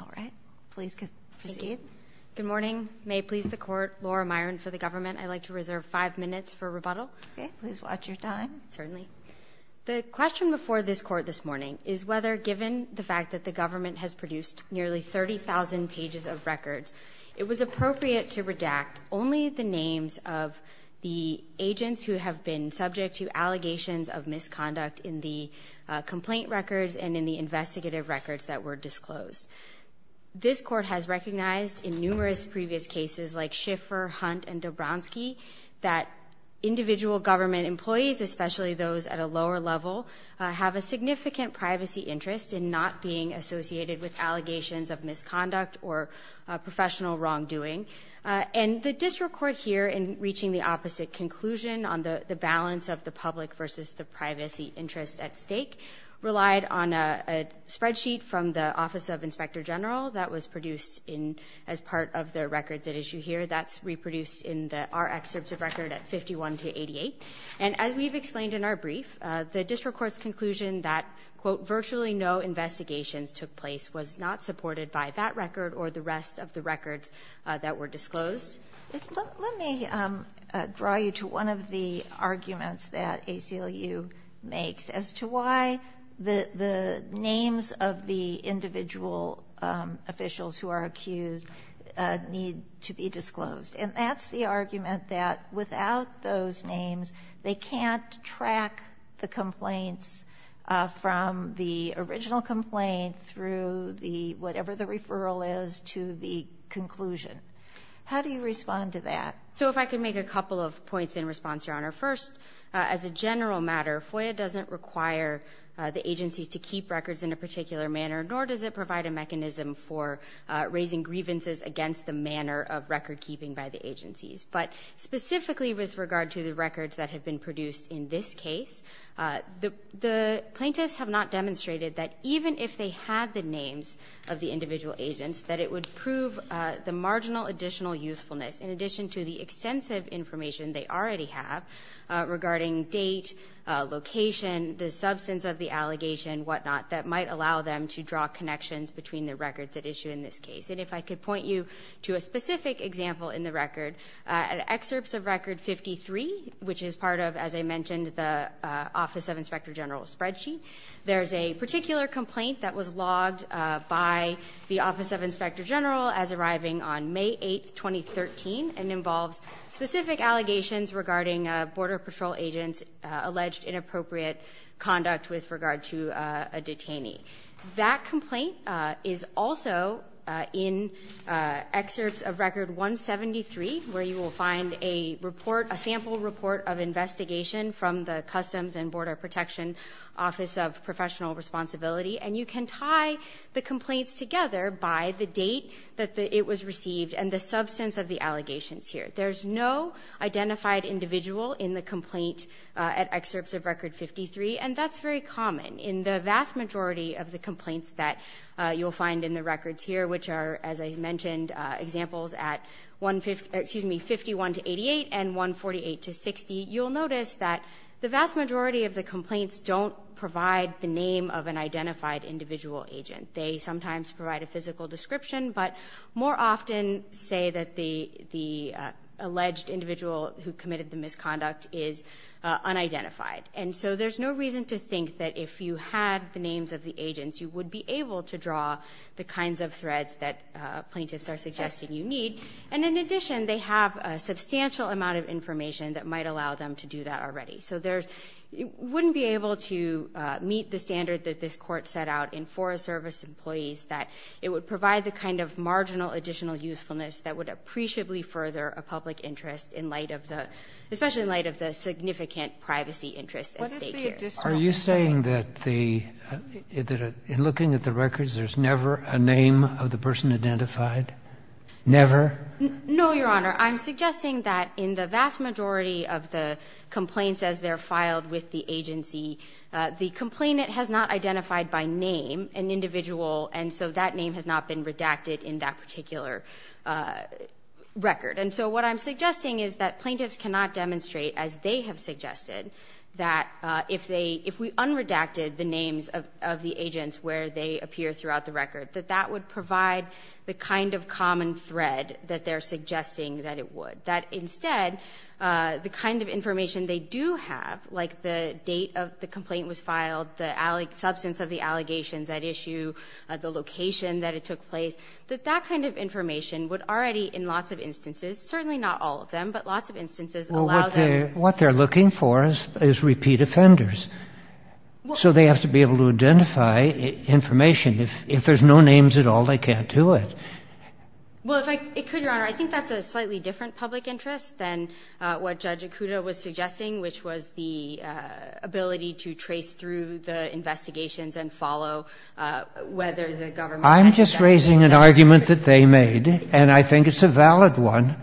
All right, please proceed. Good morning. May it please the court, Laura Myron for the government. I'd like to reserve five minutes for rebuttal. Okay, please watch your time. Certainly. The question before this court this morning is whether given the fact that the government has produced nearly 30,000 pages of records, it was appropriate to redact only the names of the agents who have been subject to allegations of misconduct in the District Court. This court has recognized in numerous previous cases like Schiffer, Hunt, and Dobrowski that individual government employees, especially those at a lower level, have a significant privacy interest in not being associated with allegations of misconduct or professional wrongdoing. And the district court here in reaching the opposite conclusion on the balance of the public versus the privacy interest at stake relied on a general that was produced in as part of their records at issue here. That's reproduced in the our excerpts of record at 51 to 88. And as we've explained in our brief, the district court's conclusion that quote, virtually no investigations took place was not supported by that record or the rest of the records that were disclosed. Let me draw you to one of the arguments that ACLU makes as to why the the names of the individual officials who are accused need to be disclosed. And that's the argument that without those names, they can't track the complaints from the original complaint through the whatever the referral is to the conclusion. How do you respond to that? So if I could make a couple of points in response, Your Honor. First, as a general matter, FOIA doesn't require the agencies to keep records in a particular manner, nor does it provide a mechanism for raising grievances against the manner of record keeping by the agencies. But specifically with regard to the records that have been produced in this case, the the plaintiffs have not demonstrated that even if they had the names of the individual agents that it would prove the marginal additional usefulness in addition to the extensive information they already have regarding date, location, the substance of the allegation, whatnot, that might allow them to draw connections between the records at issue in this case. And if I could point you to a specific example in the record, excerpts of Record 53, which is part of, as I mentioned, the Office of Inspector General spreadsheet. There's a particular complaint that was logged by the Office of Inspector General as arriving on May 8th, 2013, and involves specific allegations regarding Border Patrol agents alleged inappropriate conduct with regard to a detainee. That complaint is also in excerpts of Record 173, where you will find a report, a sample report of investigation from the Customs and Border Protection Office of Professional Responsibility. And you can tie the complaints together by the date that it was received and the substance of the allegations here. There's no identified individual in the complaint at excerpts of Record 53, and that's very common. In the vast majority of the complaints that you'll find in the records here, which are, as I mentioned, examples at 51 to 88 and 148 to 60, you'll notice that the vast majority of the complaints don't provide the name of an identified individual agent. They sometimes provide a physical description, but more often say that the alleged individual who committed the misconduct is unidentified. And so there's no reason to think that if you had the names of the agents, you would be able to draw the kinds of threads that plaintiffs are suggesting you need. And in addition, they have a substantial amount of information that might allow them to do that already. So there's — you wouldn't be able to meet the standard that this Court set out in Forest Service Employees that it would provide the kind of marginal additional usefulness that would appreciably further a public interest in light of the — especially in light of the significant privacy interests at stake here. Are you saying that the — in looking at the records, there's never a name of the person identified? Never? No, Your Honor. I'm suggesting that in the vast majority of the complaints as they're filed with the agency, the complainant has not identified by name an individual, and so that name has not been redacted in that particular record. And so what I'm suggesting is that plaintiffs cannot demonstrate, as they have suggested, that if they — if we unredacted the names of the agents where they appear throughout the record, that that would provide the kind of common thread that they're suggesting that it would, that instead the kind of information they do have, like the date of the complaint was filed, the substance of the allegations at issue, the location that it took place, that that kind of information would already, in lots of instances — certainly not all of them, but lots of instances — What they're looking for is repeat offenders. So they have to be able to identify information. If there's no names at all, they can't do it. Well, if I could, Your Honor, I think that's a slightly different public interest than what Judge Ikuda was suggesting, which was the ability to trace through the investigations and follow whether the government actually does — I'm just raising an argument that they made, and I think it's a valid one,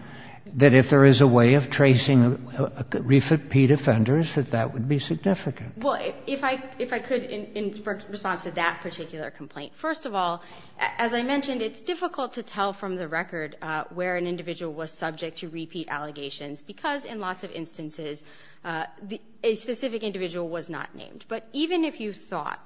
that if there is a way of tracing repeat offenders, that that would be significant. Well, if I could, in response to that particular complaint, first of all, as I mentioned, it's difficult to tell from the record where an individual was subject to repeat allegations because, in lots of instances, a specific individual was not named. But even if you thought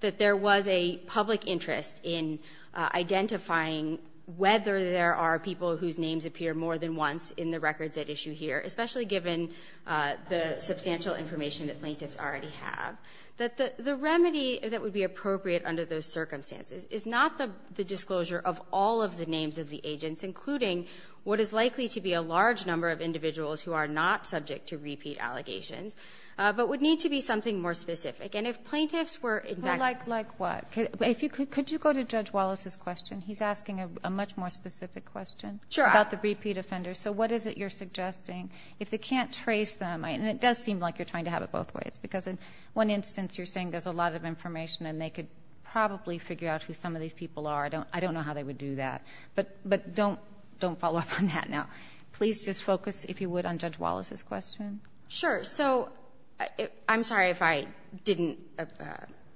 that there was a public interest in identifying whether there are people whose names appear more than once in the records at issue here, especially given the substantial information that plaintiffs already have, that the remedy that would be appropriate under those circumstances is not the disclosure of all of the names of the agents, including what is likely to be a large number of individuals who are not subject to repeat allegations, but would need to be something more specific. And if plaintiffs were in fact — Well, like what? Could you go to Judge Wallace's question? He's asking a much more specific question about the repeat offenders. So what is it you're suggesting? If they can't trace them — and it does seem like you're trying to have it both ways, because in one instance, you're saying there's a lot of information and they could probably figure out who some of these people are. I don't know how they would do that. But don't follow up on that now. Please just focus, if you would, on Judge Wallace's question. Sure. So, I'm sorry if I didn't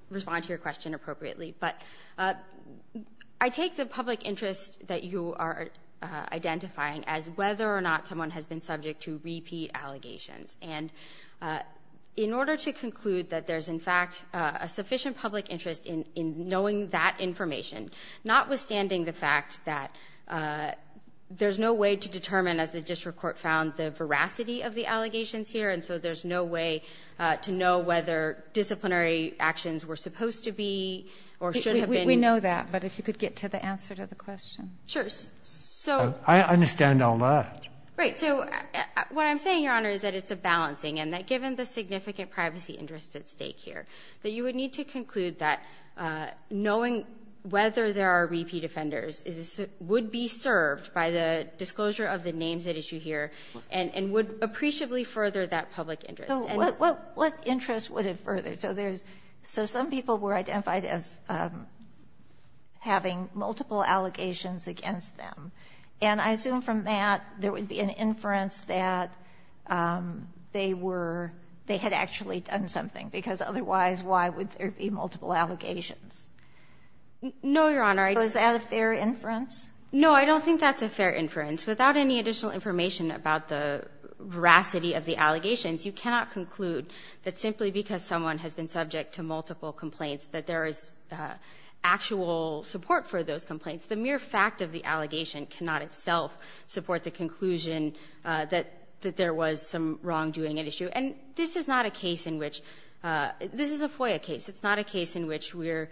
respond to your question appropriately, but I take the public interest that you are identifying as whether or not someone has been subject to repeat allegations. And in order to conclude that there's, in fact, a sufficient public interest in knowing that information, notwithstanding the fact that there's no way to determine, as the district court found, the veracity of the allegations here, and so there's no way to know whether disciplinary actions were supposed to be or should have been. We know that, but if you could get to the answer to the question. Sure. So. I understand all that. Right. So what I'm saying, Your Honor, is that it's a balancing, and that given the significant privacy interest at stake here, that you would need to conclude that knowing whether there are repeat offenders would be served by the disclosure of the names at issue here, and would appreciably further that public interest. So what interest would it further? So there's so some people were identified as having multiple allegations against them, and I assume from that, there would be an inference that they were they had actually done something, because otherwise, why would there be multiple allegations? No, Your Honor. So is that a fair inference? No, I don't think that's a fair inference. Without any additional information about the veracity of the allegations, you cannot conclude that simply because someone has been subject to multiple of those complaints, the mere fact of the allegation cannot itself support the conclusion that there was some wrongdoing at issue. And this is not a case in which this is a FOIA case. It's not a case in which we're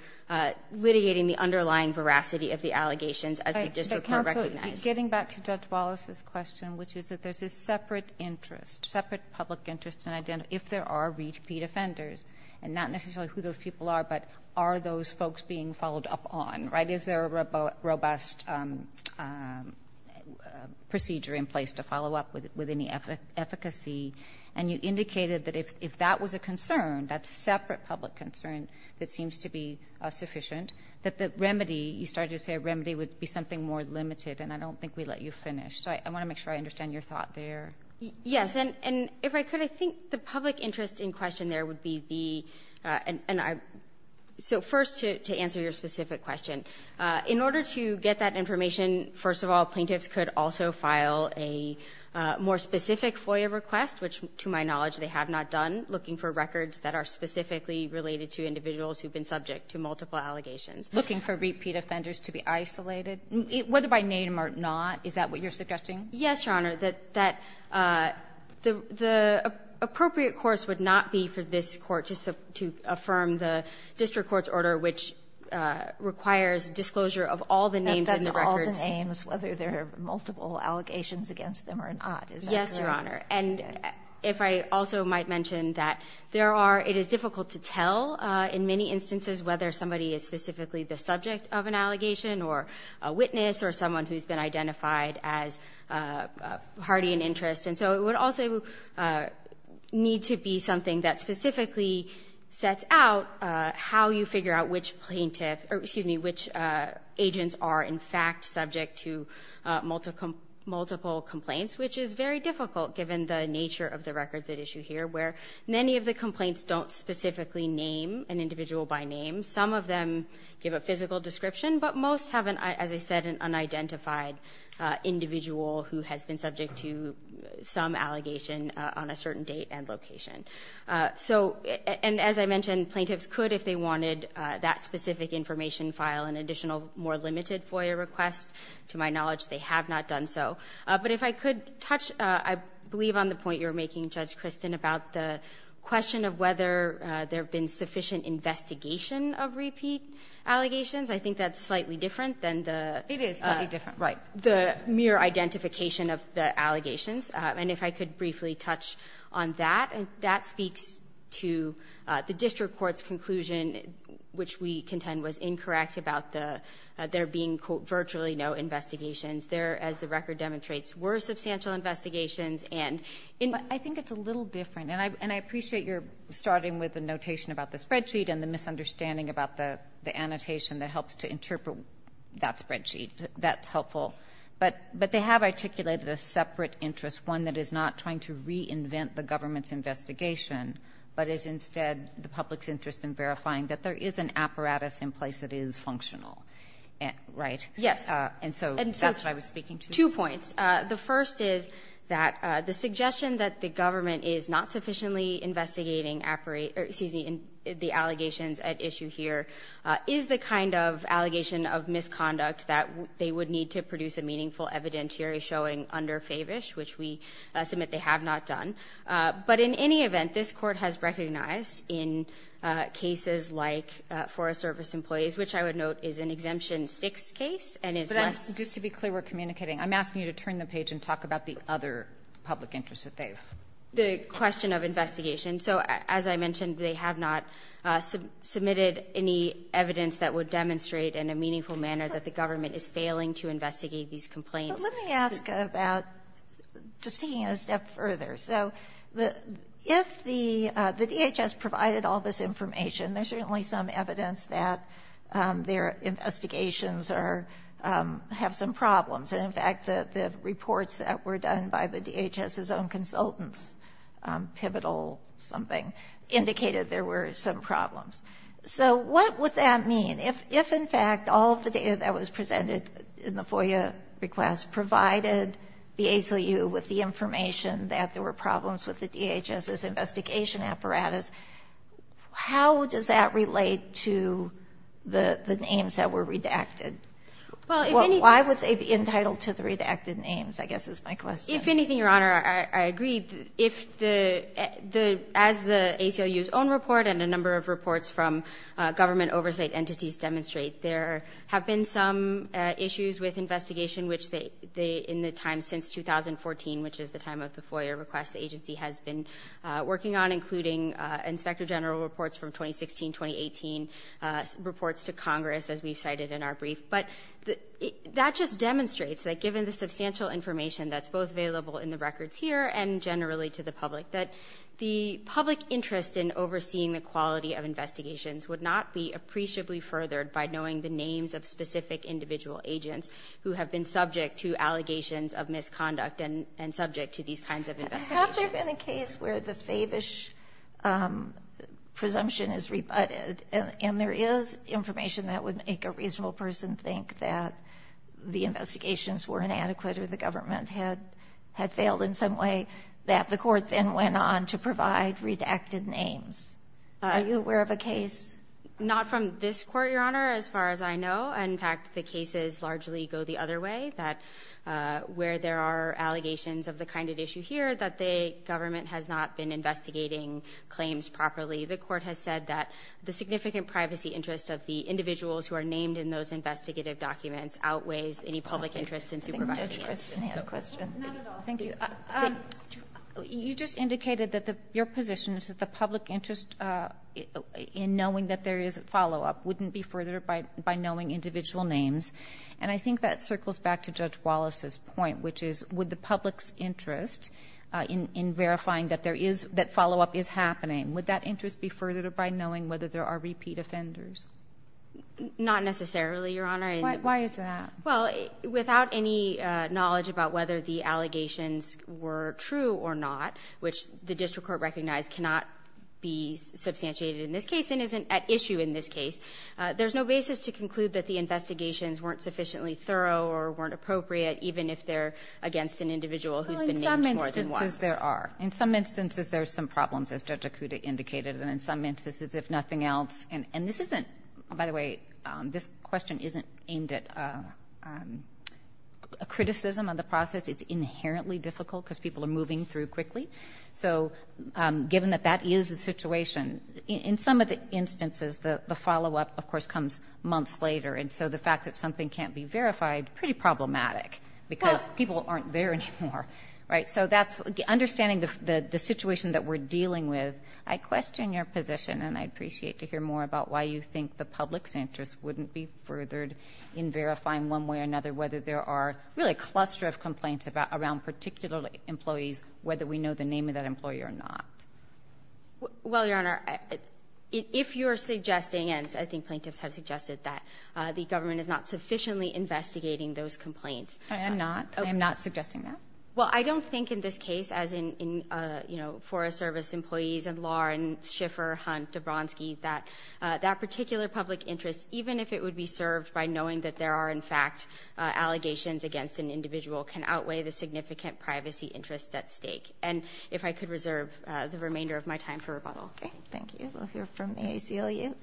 litigating the underlying veracity of the allegations as the district recognized. Getting back to Judge Wallace's question, which is that there's a separate interest, separate public interest in identifying if there are repeat offenders, and not necessarily who those people are, but are those folks being followed up on, right? Is there a robust procedure in place to follow up with any efficacy? And you indicated that if that was a concern, that separate public concern that seems to be sufficient, that the remedy, you started to say a remedy would be something more limited, and I don't think we let you finish. So I want to make sure I understand your thought there. Yes. And if I could, I think the public interest in question there would be the and I so first to answer your specific question, in order to get that information, first of all, plaintiffs could also file a more specific FOIA request, which to my knowledge they have not done, looking for records that are specifically related to individuals who have been subject to multiple allegations. Looking for repeat offenders to be isolated, whether by name or not, is that what you're suggesting? Yes, Your Honor. That the appropriate course would not be for this Court to affirm the district court's order, which requires disclosure of all the names in the records. But that's all the names, whether there are multiple allegations against them or not. Is that clear? Yes, Your Honor. And if I also might mention that there are, it is difficult to tell in many instances whether somebody is specifically the subject of an allegation or a witness or someone who's been identified as hardy in interest, and so it would also need to be something that specifically sets out how you figure out which agents are in fact subject to multiple complaints, which is very difficult given the nature of the records at issue here, where many of the complaints don't specifically name an individual by name. Some of them give a physical description, but most have, as I said, an unidentified individual who has been subject to some allegation on a certain date and location. So, and as I mentioned, plaintiffs could, if they wanted, that specific information file an additional more limited FOIA request. To my knowledge, they have not done so. But if I could touch, I believe, on the point you're making, Judge Kristin, about the question of whether there have been sufficient investigation of repeat allegations, I think that's slightly different than the other. The mere identification of the allegations, and if I could briefly touch on that. That speaks to the district court's conclusion, which we contend was incorrect about there being, quote, virtually no investigations. There, as the record demonstrates, were substantial investigations, and in- I think it's a little different, and I appreciate you're starting with the notation about the spreadsheet and the misunderstanding about the annotation that helps to interpret that spreadsheet, that's helpful. But they have articulated a separate interest, one that is not trying to reinvent the government's investigation, but is instead the public's interest in verifying that there is an apparatus in place that is functional, right? Yes. And so that's what I was speaking to. Two points. The first is that the suggestion that the government is not sufficiently investigating the allegations at issue here is the kind of allegation of misconduct that they would need to produce a meaningful evidentiary showing under Favish, which we submit they have not done. But in any event, this Court has recognized in cases like Forest Service employees, which I would note is an Exemption 6 case, and is less- But I'm just to be clear, we're communicating. I'm asking you to turn the page and talk about the other public interest that they've- The question of investigation. So as I mentioned, they have not submitted any evidence that would demonstrate in a meaningful manner that the government is failing to investigate these complaints. But let me ask about, just taking it a step further. So if the DHS provided all this information, there's certainly some evidence that their investigations are, have some problems. And in fact, the reports that were done by the DHS's own consultants, Pivotal something, indicated there were some problems. So what would that mean? If in fact all of the data that was presented in the FOIA request provided the ACLU with the information that there were problems with the DHS's investigation apparatus, how does that relate to the names that were redacted? Well, why would they be entitled to the redacted names, I guess is my question. If anything, Your Honor, I agree. If the, as the ACLU's own report and a number of reports from government oversight entities demonstrate, there have been some issues with investigation, which they, in the time since 2014, which is the time of the FOIA request, the agency has been working on, including Inspector General reports from 2016, 2018, reports to Congress, as we've cited in our brief. But that just demonstrates that given the substantial information that's both available in the records here and generally to the public, that the public interest in overseeing the quality of investigations would not be appreciably furthered by knowing the names of specific individual agents who have been subject to allegations of misconduct and subject to these kinds of investigations. Have there been a case where the favish presumption is rebutted, and there is information that would make a reasonable person think that the investigations were inadequate or the government had failed in some way, that the court then went on to provide redacted names? Are you aware of a case? Not from this court, Your Honor, as far as I know. In fact, the cases largely go the other way, that where there are allegations of the kind of issue here, that the government has not been investigating claims properly. The court has said that the significant privacy interests of the individuals who are named in those investigative documents outweighs any public interest in supervising the case. I think Judge Christian has a question. Not at all. Thank you. You just indicated that your position is that the public interest in knowing that there is a follow-up wouldn't be furthered by knowing individual names, and I think that circles back to Judge Wallace's point, which is, would the public's interest in verifying that there is, that follow-up is happening, would that interest be furthered by knowing whether there are repeat offenders? Not necessarily, Your Honor. Why is that? Well, without any knowledge about whether the allegations were true or not, which the district court recognized cannot be substantiated in this case and isn't at issue in this case, there's no basis to conclude that the investigations weren't sufficiently thorough or weren't appropriate, even if they're against an individual who's been named more than once. Well, in some instances there are. In some instances there are some problems, as Judge Acuda indicated, and in some instances, if nothing else, and this isn't, by the way, this question isn't aimed at a criticism of the process. It's inherently difficult because people are moving through quickly. So given that that is the situation, in some of the instances the follow-up, of course, comes months later, and so the fact that something can't be verified, pretty problematic because people aren't there anymore, right? So that's, understanding the situation that we're dealing with, I question your position, and I'd appreciate to hear more about why you think the public's interest wouldn't be furthered in verifying one way or another, whether there are really a cluster of complaints around particular employees, whether we know the name of that employee or not. Well, Your Honor, if you're suggesting, and I think plaintiffs have suggested that, the government is not sufficiently investigating those complaints. I am not. I am not suggesting that. Well, I don't think in this case, as in, you know, Forest Service employees and Lauren Schiffer, Hunt, Dobronski, that that particular public interest, even if it would be served by knowing that there are, in fact, allegations against an individual, can outweigh the significant privacy interest at stake. And if I could reserve the remainder of my time for rebuttal. Okay. Thank you. We'll hear from the ACLU.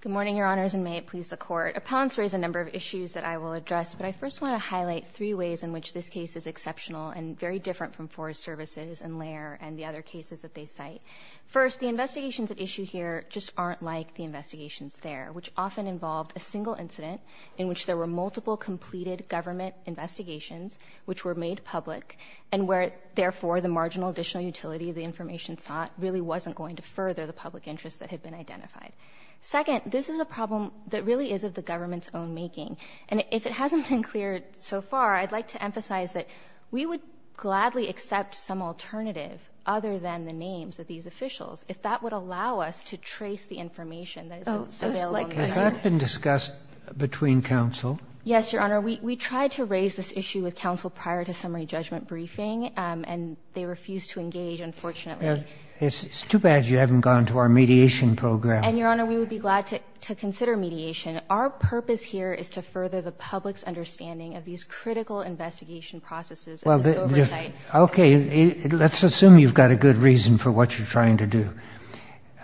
Good morning, Your Honors, and may it please the Court. Appellants raise a number of issues that I will address, but I first want to highlight three ways in which this case is exceptional and very different from Forest Services and Lair and the other cases that they cite. First, the investigations at issue here just aren't like the investigations there, which often involved a single incident in which there were multiple completed government investigations which were made public and where, therefore, the marginal additional utility of the information sought really wasn't going to further the public interest that had been identified. Second, this is a problem that really is of the government's own making. And if it hasn't been cleared so far, I'd like to emphasize that we would gladly accept some alternative other than the names of these officials if that would allow us to trace the information that is available here. Has that been discussed between counsel? Yes, Your Honor. We tried to raise this issue with counsel prior to summary judgment briefing, and they refused to engage, unfortunately. It's too bad you haven't gone to our mediation program. And, Your Honor, we would be glad to consider mediation. Our purpose here is to further the public's understanding of these critical investigation processes and this oversight. Okay. Let's assume you've got a good reason for what you're trying to do.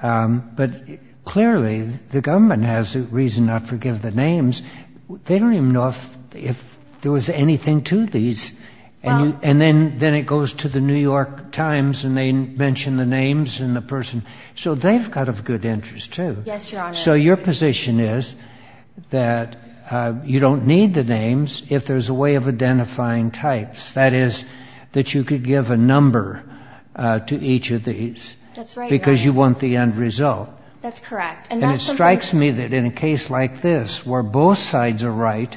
But clearly, the government has a reason not to forgive the names. They don't even know if there was anything to these. And then it goes to the New York Times and they mention the names and the person. So they've got a good interest, too. Yes, Your Honor. So your position is that you don't need the names if there's a way of identifying types, that is, that you could give a number to each of these because you want the end result. That's correct. And it strikes me that in a case like this where both sides are right,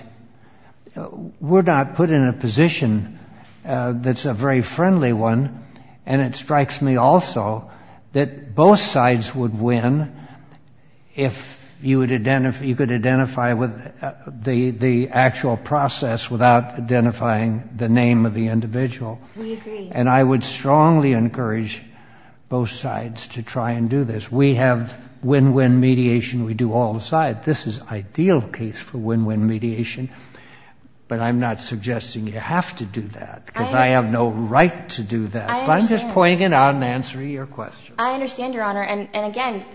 we're not put in a position that's a very friendly one. And it strikes me also that both sides would win if you could identify the actual process without identifying the name of the individual. We agree. And I would strongly encourage both sides to try and do this. We have win-win mediation. We do all the sides. This is ideal case for win-win mediation. But I'm not suggesting you have to do that because I have no right to do that. I'm just pointing it out in answer to your question. I understand, Your Honor. And again,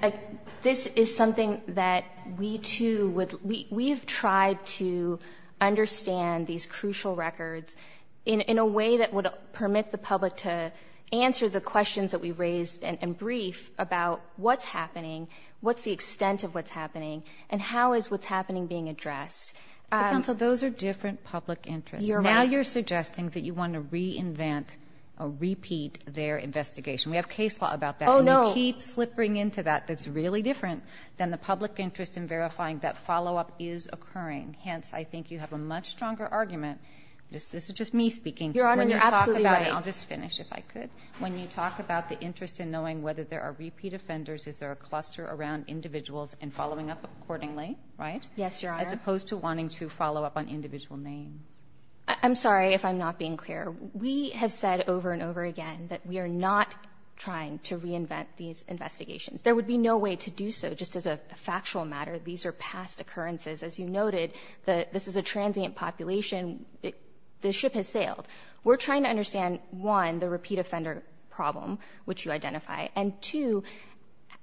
this is something that we, too, we've tried to understand these crucial records in a way that would permit the public to answer the questions that we've raised and brief about what's happening, what's the extent of what's happening, and how is what's happening being addressed. But, counsel, those are different public interests. You're right. We have case law about that. Oh, no. And we keep slipping into that that's really different than the public interest in verifying that follow-up is occurring. Hence, I think you have a much stronger argument. This is just me speaking. Your Honor, you're absolutely right. I'll just finish if I could. When you talk about the interest in knowing whether there are repeat offenders, is there a cluster around individuals and following up accordingly, right? Yes, Your Honor. As opposed to wanting to follow up on individual names. I'm sorry if I'm not being clear. We have said over and over again that we are not trying to reinvent these investigations. There would be no way to do so just as a factual matter. These are past occurrences. As you noted, this is a transient population. The ship has sailed. We're trying to understand, one, the repeat offender problem, which you identify, and two,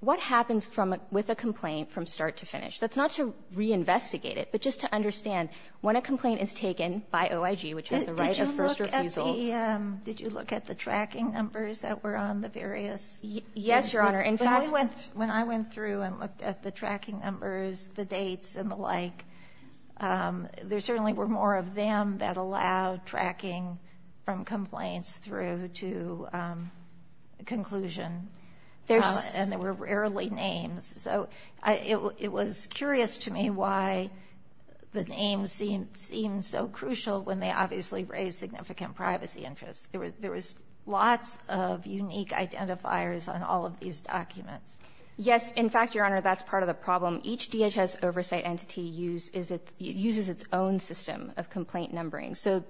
what happens with a complaint from start to finish. That's not to reinvestigate it, but just to understand, when a complaint is taken by OIG, which has the right of first refusal. Did you look at the tracking numbers that were on the various? Yes, Your Honor. In fact, when I went through and looked at the tracking numbers, the dates, and the like, there certainly were more of them that allowed tracking from complaints through to conclusion. And they were rarely names. So it was curious to me why the names seemed so crucial when they obviously raised significant privacy interests. There was lots of unique identifiers on all of these documents. Yes. In fact, Your Honor, that's part of the problem. Each DHS oversight entity uses its own system of complaint numbering. So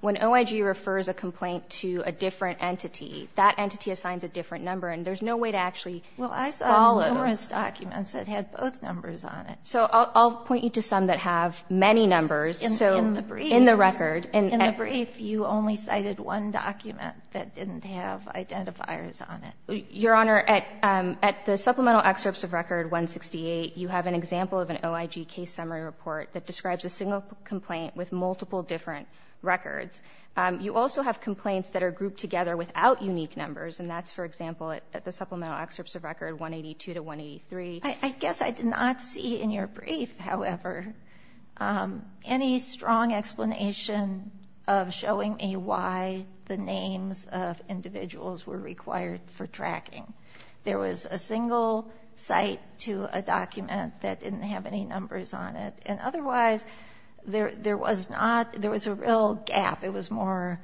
when OIG refers a complaint to a different entity, that entity assigns a different number. And there's no way to actually follow. Well, I saw numerous documents that had both numbers on it. So I'll point you to some that have many numbers. In the brief. In the record. In the brief, you only cited one document that didn't have identifiers on it. Your Honor, at the supplemental excerpts of Record 168, you have an example of an OIG case summary report that describes a single complaint with multiple different records. You also have complaints that are grouped together without unique numbers. And that's, for example, at the supplemental excerpts of Record 182 to 183. I guess I did not see in your brief, however, any strong explanation of showing me why the names of individuals were required for tracking. There was a single site to a document that didn't have any numbers on it. And otherwise, there was not, there was a real gap. It was more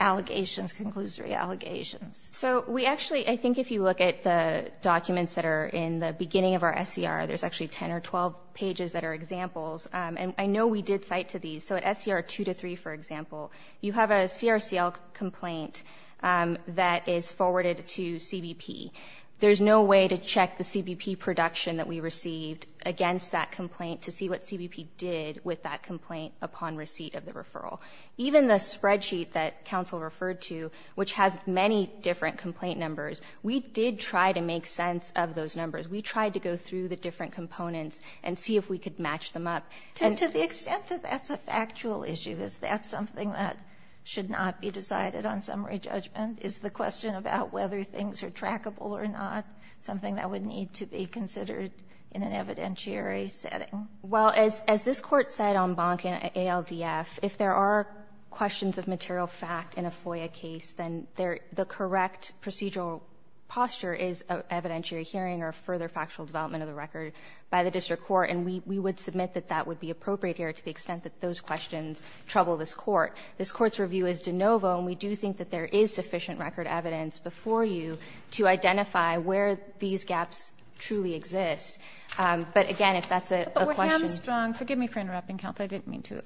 allegations, conclusory allegations. So we actually, I think if you look at the documents that are in the beginning of our SCR, there's actually 10 or 12 pages that are examples. And I know we did cite to these. So at SCR 2 to 3, for example, you have a CRCL complaint that is forwarded to CBP. There's no way to check the CBP production that we received against that complaint to see what CBP did with that complaint upon receipt of the referral. Even the spreadsheet that counsel referred to, which has many different complaint numbers, we did try to make sense of those numbers. We tried to go through the different components and see if we could match them up. To the extent that that's a factual issue, is that something that should not be decided on summary judgment? Is the question about whether things are trackable or not something that would need to be considered in an evidentiary setting? Well, as this Court said on Bonk and ALDF, if there are questions of material fact in a FOIA case, then the correct procedural posture is evidentiary hearing or further factual development of the record by the district court. And we would submit that that would be appropriate here to the extent that those questions trouble this Court. This Court's review is de novo, and we do think that there is sufficient record evidence before you to identify where these gaps truly exist. But again, if that's a question- But we're hamstrung, forgive me for interrupting, counsel, I didn't mean to.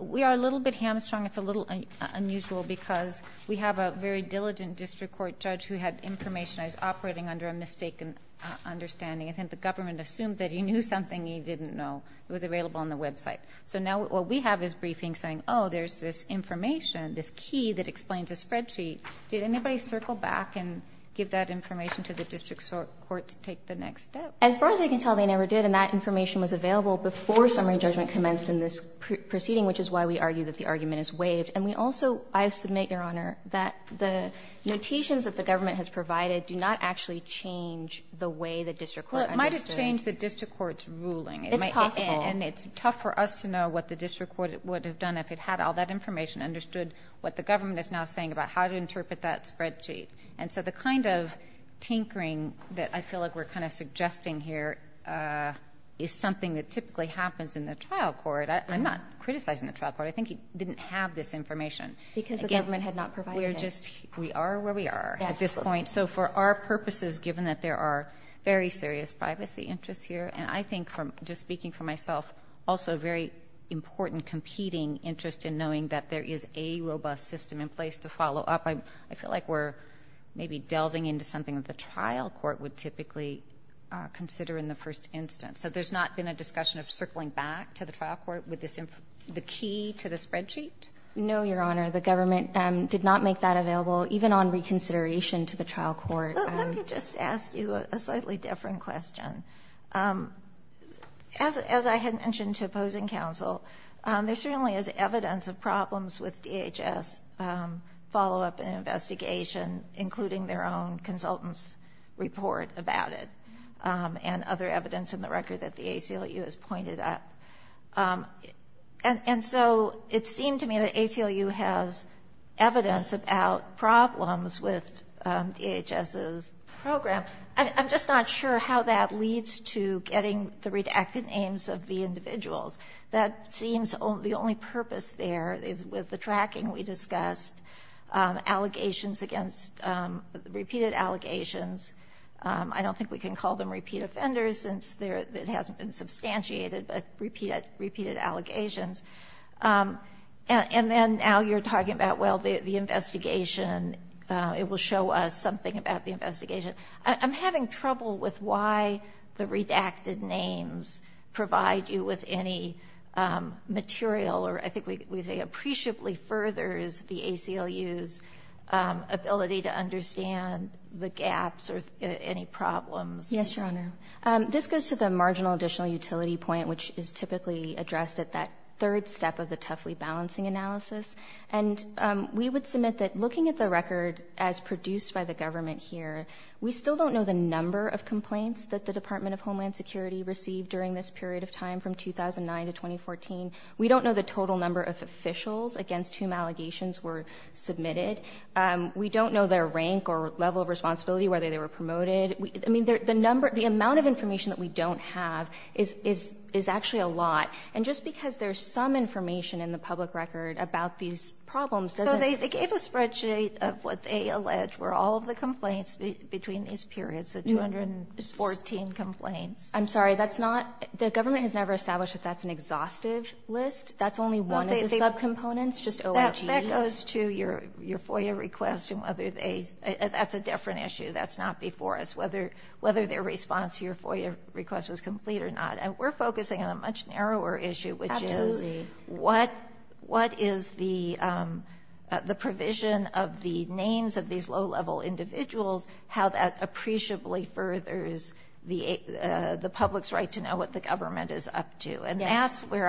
We are a little bit hamstrung, it's a little unusual because we have a very diligent district court judge who had information. I was operating under a mistaken understanding. I think the government assumed that he knew something he didn't know, it was available on the website. So now what we have is briefings saying, oh, there's this information, this key that explains a spreadsheet. Did anybody circle back and give that information to the district court to take the next step? As far as I can tell, they never did, and that information was available before summary judgment commenced in this proceeding, which is why we argue that the argument is waived. And we also, I submit, Your Honor, that the notations that the government has provided do not actually change the way the district court understood it. Well, it might have changed the district court's ruling. It's possible. And it's tough for us to know what the district court would have done if it had all that information, understood what the government is now saying about how to interpret that spreadsheet. And so the kind of tinkering that I feel like we're kind of suggesting here is something that typically happens in the trial court. I'm not criticizing the trial court. I think he didn't have this information. Because the government had not provided it. We are where we are at this point. So for our purposes, given that there are very serious privacy interests here, and I think, just speaking for myself, also a very important competing interest in knowing that there is a robust system in place to follow up. I feel like we're maybe delving into something that the trial court would typically consider in the first instance. So there's not been a discussion of circling back to the trial court with the key to the spreadsheet? No, Your Honor. The government did not make that available, even on reconsideration to the trial court. Let me just ask you a slightly different question. As I had mentioned to opposing counsel, there certainly is evidence of problems with DHS follow-up and investigation, including their own consultant's report about it. And other evidence in the record that the ACLU has pointed at. And so it seemed to me that ACLU has evidence about problems with DHS's program. I'm just not sure how that leads to getting the redacted names of the individuals. That seems the only purpose there is with the tracking we discussed. Allegations against, repeated allegations. I don't think we can call them repeat offenders since it hasn't been substantiated, but repeated allegations. And then now you're talking about, well, the investigation, it will show us something about the investigation. I'm having trouble with why the redacted names provide you with any material, or I think we say appreciably furthers the ACLU's ability to understand the gaps or any problems. Yes, Your Honor. This goes to the marginal additional utility point, which is typically addressed at that third step of the Tuffley balancing analysis. And we would submit that looking at the record as produced by the government here, we still don't know the number of complaints that the Department of Homeland Security received during this period of time from 2009 to 2014. We don't know the total number of officials against whom allegations were submitted. We don't know their rank or level of responsibility, whether they were promoted. I mean, the amount of information that we don't have is actually a lot. And just because there's some information in the public record about these problems doesn't- So they gave a spreadsheet of what they allege were all of the complaints between these periods, the 214 complaints. I'm sorry, that's not, the government has never established that that's an exhaustive list. That's only one of the sub-components, just OIG. That goes to your FOIA request and whether they, that's a different issue. That's not before us, whether their response to your FOIA request was complete or not. And we're focusing on a much narrower issue, which is what is the provision of the names of these low-level individuals, how that appreciably furthers the public's right to know what the government is up to. And that's where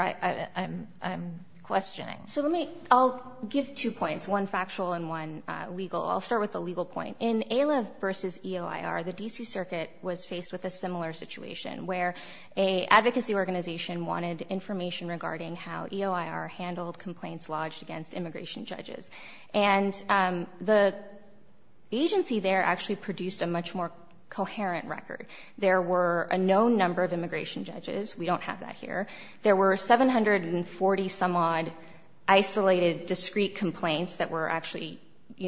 I'm questioning. So let me, I'll give two points, one factual and one legal. I'll start with the legal point. In AILA versus EOIR, the DC Circuit was faced with a similar situation, where a advocacy organization wanted information regarding how EOIR handled complaints lodged against immigration judges. And the agency there actually produced a much more coherent record. There were a known number of immigration judges, we don't have that here. There were 740-some-odd isolated, discrete complaints that were actually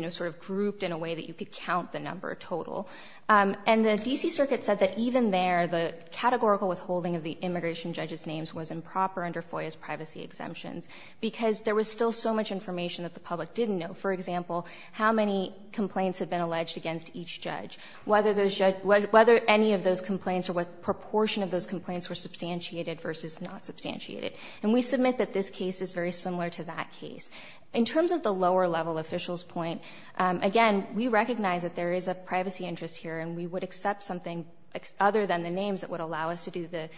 sort of grouped in a way that you could count the number total. And the DC Circuit said that even there, the categorical withholding of the immigration judge's names was improper under FOIA's privacy exemptions. Because there was still so much information that the public didn't know. For example, how many complaints had been alleged against each judge. Whether any of those complaints or what proportion of those complaints were substantiated versus not substantiated. And we submit that this case is very similar to that case. In terms of the lower level officials point, again, we recognize that there is a privacy interest here. And we would accept something other than the names that would allow us to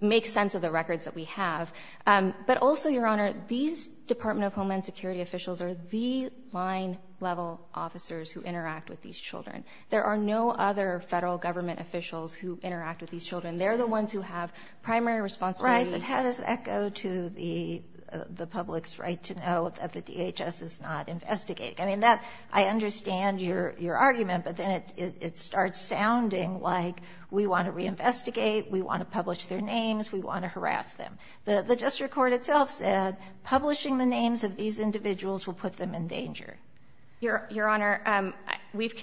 make sense of the records that we have. But also, Your Honor, these Department of Homeland Security officials are the line level officers who interact with these children. There are no other federal government officials who interact with these children. They're the ones who have primary responsibility. Right, but how does that go to the public's right to know that the DHS is not investigating? I mean, that, I understand your argument, but then it starts sounding like we want to reinvestigate, we want to publish their names, we want to harass them. The district court itself said, publishing the names of these individuals will put them in danger. Your Honor, we've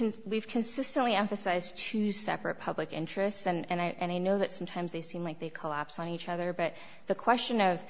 consistently emphasized two separate public interests. And I know that sometimes they seem like they collapse on each other. But the question of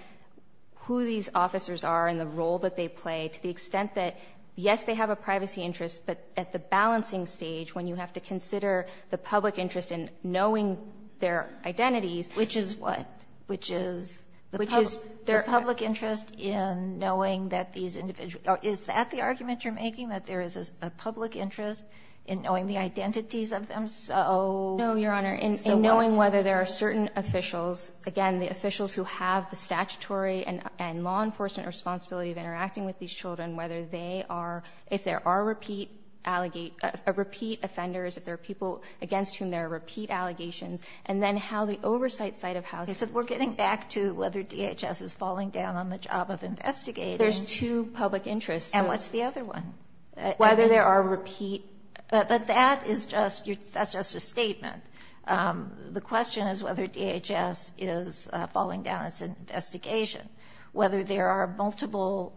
who these officers are and the role that they play, to the extent that, yes, they have a privacy interest. But at the balancing stage, when you have to consider the public interest in knowing their identities. Which is what? Which is the public interest in knowing that these individuals. Is that the argument you're making? That there is a public interest in knowing the identities of them? So- No, Your Honor, in knowing whether there are certain officials. Again, the officials who have the statutory and law enforcement responsibility of interacting with these children. Whether they are, if there are repeat offenders, if there are people against whom there are repeat allegations. And then how the oversight side of how- I said we're getting back to whether DHS is falling down on the job of investigating. There's two public interests. And what's the other one? Whether there are repeat- But that is just, that's just a statement. The question is whether DHS is falling down as an investigation. Whether there are multiple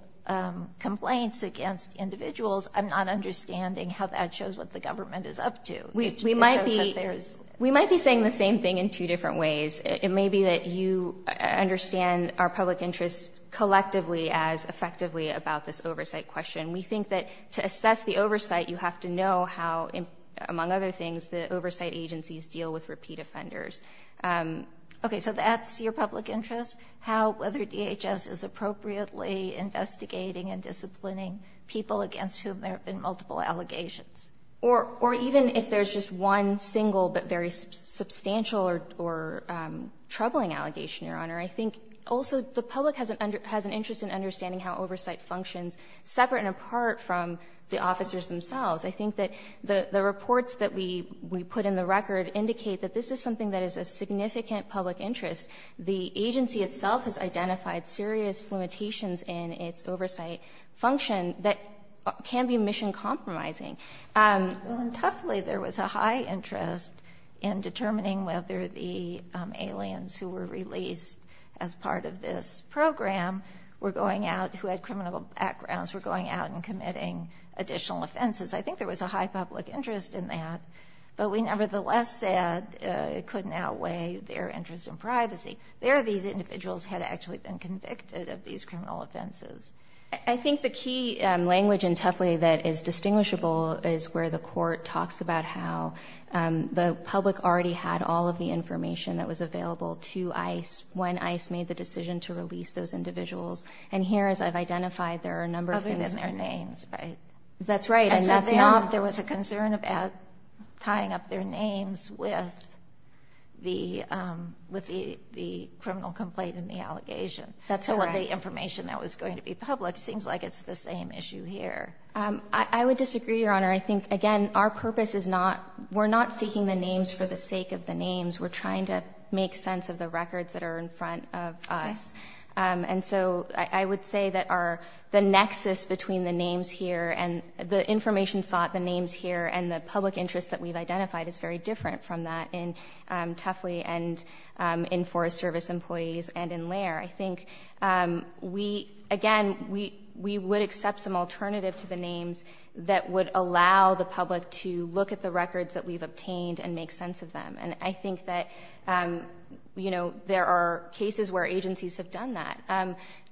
complaints against individuals. I'm not understanding how that shows what the government is up to. We might be saying the same thing in two different ways. It may be that you understand our public interest collectively as effectively about this oversight question. We think that to assess the oversight, you have to know how, among other things, the oversight agencies deal with repeat offenders. Okay, so that's your public interest? How, whether DHS is appropriately investigating and disciplining people against whom there have been multiple allegations? Or even if there's just one single but very substantial or troubling allegation, Your Honor. I think also the public has an interest in understanding how oversight functions separate and apart from the officers themselves. I think that the reports that we put in the record indicate that this is something that is of significant public interest. The agency itself has identified serious limitations in its oversight function that can be mission compromising. Well, and toughly, there was a high interest in determining whether the aliens who were released as part of this program were going out, who had criminal backgrounds, were going out and committing additional offenses. I think there was a high public interest in that. But we nevertheless said it couldn't outweigh their interest in privacy. There, these individuals had actually been convicted of these criminal offenses. I think the key language in Tuffley that is distinguishable is where the court talks about how the public already had all of the information that was available to ICE when ICE made the decision to release those individuals. And here, as I've identified, there are a number of things- Other than their names, right? That's right, and that's not- There was a concern about tying up their names with the criminal complaint and the allegation. That's correct. So the information that was going to be public seems like it's the same issue here. I would disagree, Your Honor. I think, again, our purpose is not, we're not seeking the names for the sake of the names. We're trying to make sense of the records that are in front of us. And so I would say that the nexus between the names here and the information sought, the names here and the public interest that we've identified is very different from that in Tuffley and in Forest Service employees and in Lair. I think we, again, we would accept some alternative to the names that would allow the public to look at the records that we've obtained and make sense of them. And I think that there are cases where agencies have done that.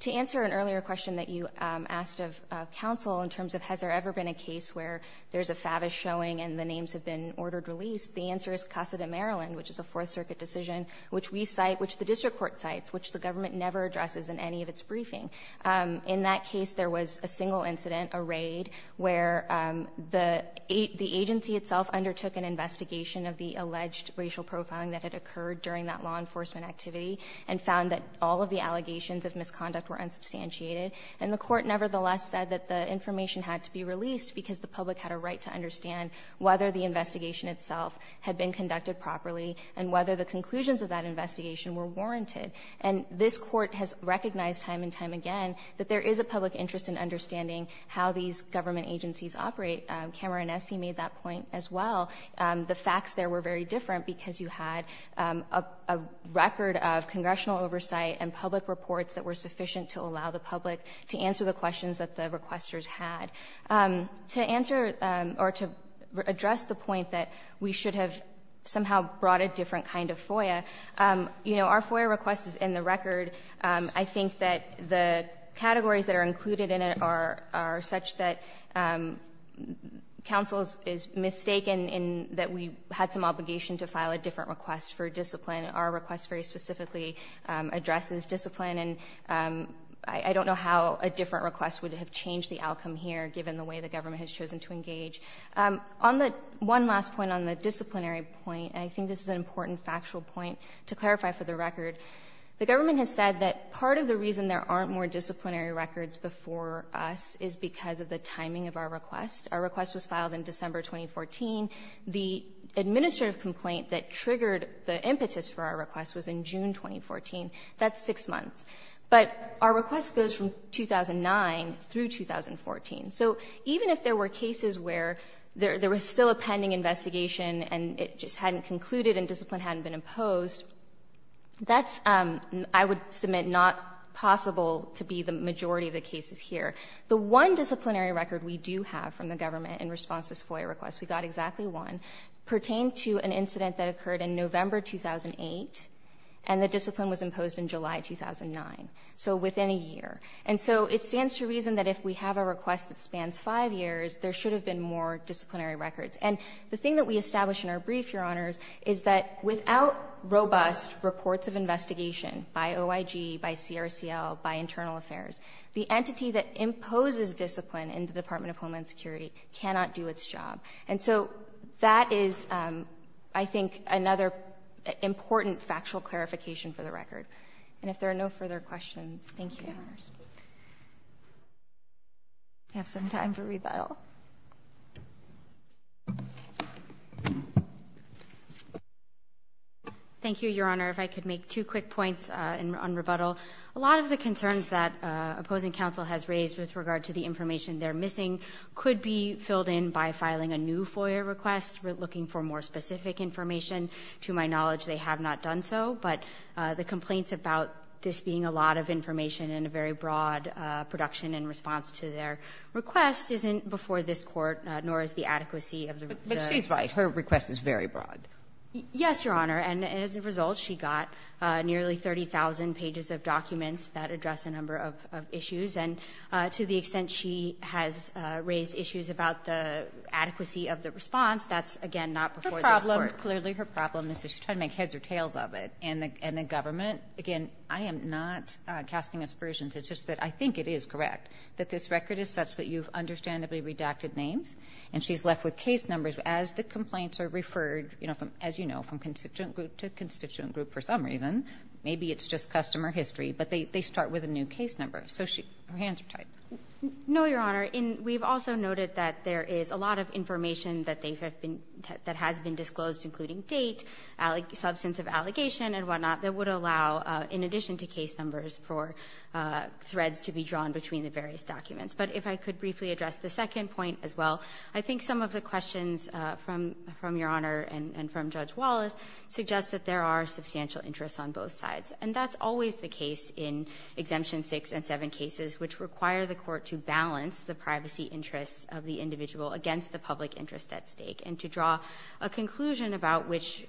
To answer an earlier question that you asked of counsel in terms of has there ever been a case where there's a fabish showing and the names have been ordered released? The answer is Casa de Maryland, which is a Fourth Circuit decision, which we cite, which the district court cites, which the government never addresses in any of its briefing. In that case, there was a single incident, a raid, where the agency itself undertook an investigation of the alleged racial profiling that had occurred during that law enforcement activity. And found that all of the allegations of misconduct were unsubstantiated. And the court nevertheless said that the information had to be released because the public had a right to understand whether the investigation itself had been conducted properly and whether the conclusions of that investigation were warranted. And this court has recognized time and time again that there is a public interest in understanding how these government agencies operate. Cameron Nessie made that point as well. The facts there were very different because you had a record of congressional oversight and public reports that were sufficient to allow the public to answer the questions that the requesters had. To answer or to address the point that we should have somehow brought a different kind of FOIA. Our FOIA request is in the record. I think that the categories that are included in it are such that council is mistaken in that we had some obligation to file a different request for discipline. Our request very specifically addresses discipline. And I don't know how a different request would have changed the outcome here, given the way the government has chosen to engage. On the one last point on the disciplinary point, and I think this is an important factual point to clarify for the record. The government has said that part of the reason there aren't more disciplinary records before us is because of the timing of our request. Our request was filed in December 2014. The administrative complaint that triggered the impetus for our request was in June 2014. That's six months. But our request goes from 2009 through 2014. So even if there were cases where there was still a pending investigation and it just hadn't concluded and discipline hadn't been imposed, that's, I would submit, not possible to be the majority of the cases here. The one disciplinary record we do have from the government in response to this FOIA request, we got exactly one, pertained to an incident that occurred in November 2008, and the discipline was imposed in July 2009. So within a year. And so it stands to reason that if we have a request that spans five years, there should have been more disciplinary records. And the thing that we established in our brief, Your Honors, is that without robust reports of investigation by OIG, by CRCL, by Internal Affairs, the entity that imposes discipline in the Department of Homeland Security cannot do its job. And so that is, I think, another important factual clarification for the record. And if there are no further questions, thank you. I have some time for rebuttal. Thank you, Your Honor. If I could make two quick points on rebuttal. A lot of the concerns that opposing counsel has raised with regard to the information they're missing could be filled in by filing a new FOIA request, looking for more specific information. To my knowledge, they have not done so, but the complaints about this being a lot of information and a very broad production in response to their request isn't before this Court, nor is the adequacy of the request. But she's right. Her request is very broad. Yes, Your Honor. And as a result, she got nearly 30,000 pages of documents that address a number of issues. And to the extent she has raised issues about the adequacy of the response, that's, again, not before this Court. Her problem, clearly her problem is that she's trying to make heads or tails of it. And the government, again, I am not casting aspersions. It's just that I think it is correct that this record is such that you've understandably redacted names. And she's left with case numbers as the complaints are referred, as you know, from constituent group to constituent group for some reason. Maybe it's just customer history, but they start with a new case number. So her hands are tied. No, Your Honor. We've also noted that there is a lot of information that has been disclosed, including date, substance of allegation, and whatnot, that would allow, in addition to case numbers, for threads to be drawn between the various documents. But if I could briefly address the second point as well, I think some of the questions from Your Honor and from Judge Wallace suggest that there are substantial interests on both sides. And that's always the case in Exemption 6 and 7 cases, which require the Court to balance the privacy interests of the individual against the public interest at stake. And to draw a conclusion about which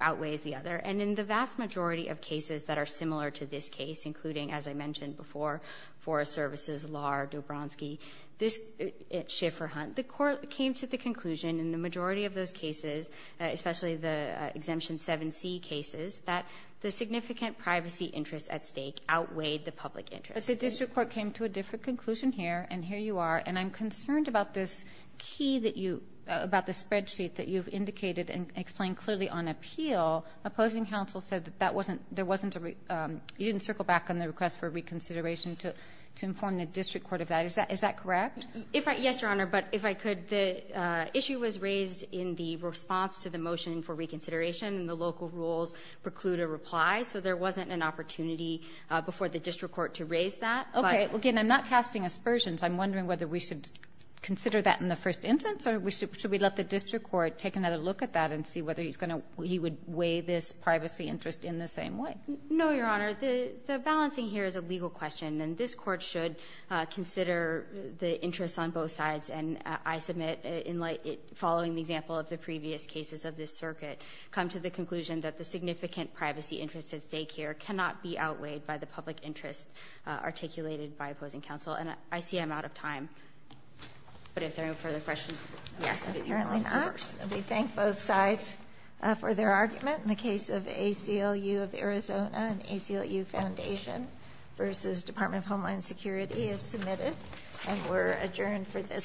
outweighs the other. And in the vast majority of cases that are similar to this case, including, as I mentioned before, Forest Services, Lahr, Dobronsky, Schifferhunt, the Court came to the conclusion in the majority of those cases, especially the Exemption 7C cases, that the significant privacy interests at stake outweighed the public interest. But the district court came to a different conclusion here, and here you are. And I'm concerned about this key that you, about the spreadsheet that you've indicated and explained clearly on appeal. Opposing counsel said that that wasn't, you didn't circle back on the request for reconsideration to inform the district court of that. Is that correct? Yes, Your Honor, but if I could, the issue was raised in the response to the motion for reconsideration, and the local rules preclude a reply. So there wasn't an opportunity before the district court to raise that. Okay. Again, I'm not casting aspersions. I'm wondering whether we should consider that in the first instance, or should we let the district court take another look at that and see whether he's going to, he would weigh this privacy interest in the same way. No, Your Honor. The balancing here is a legal question, and this Court should consider the interests on both sides, and I submit, in light, following the example of the previous cases of this circuit, come to the conclusion that the significant privacy interest at daycare cannot be outweighed by the public interest articulated by opposing counsel. And I see I'm out of time. But if there are no further questions, I'm asking that you let me converse. We thank both sides for their argument in the case of ACLU of Arizona and ACLU Foundation v. Department of Homeland Security is submitted, and we're adjourned for this session.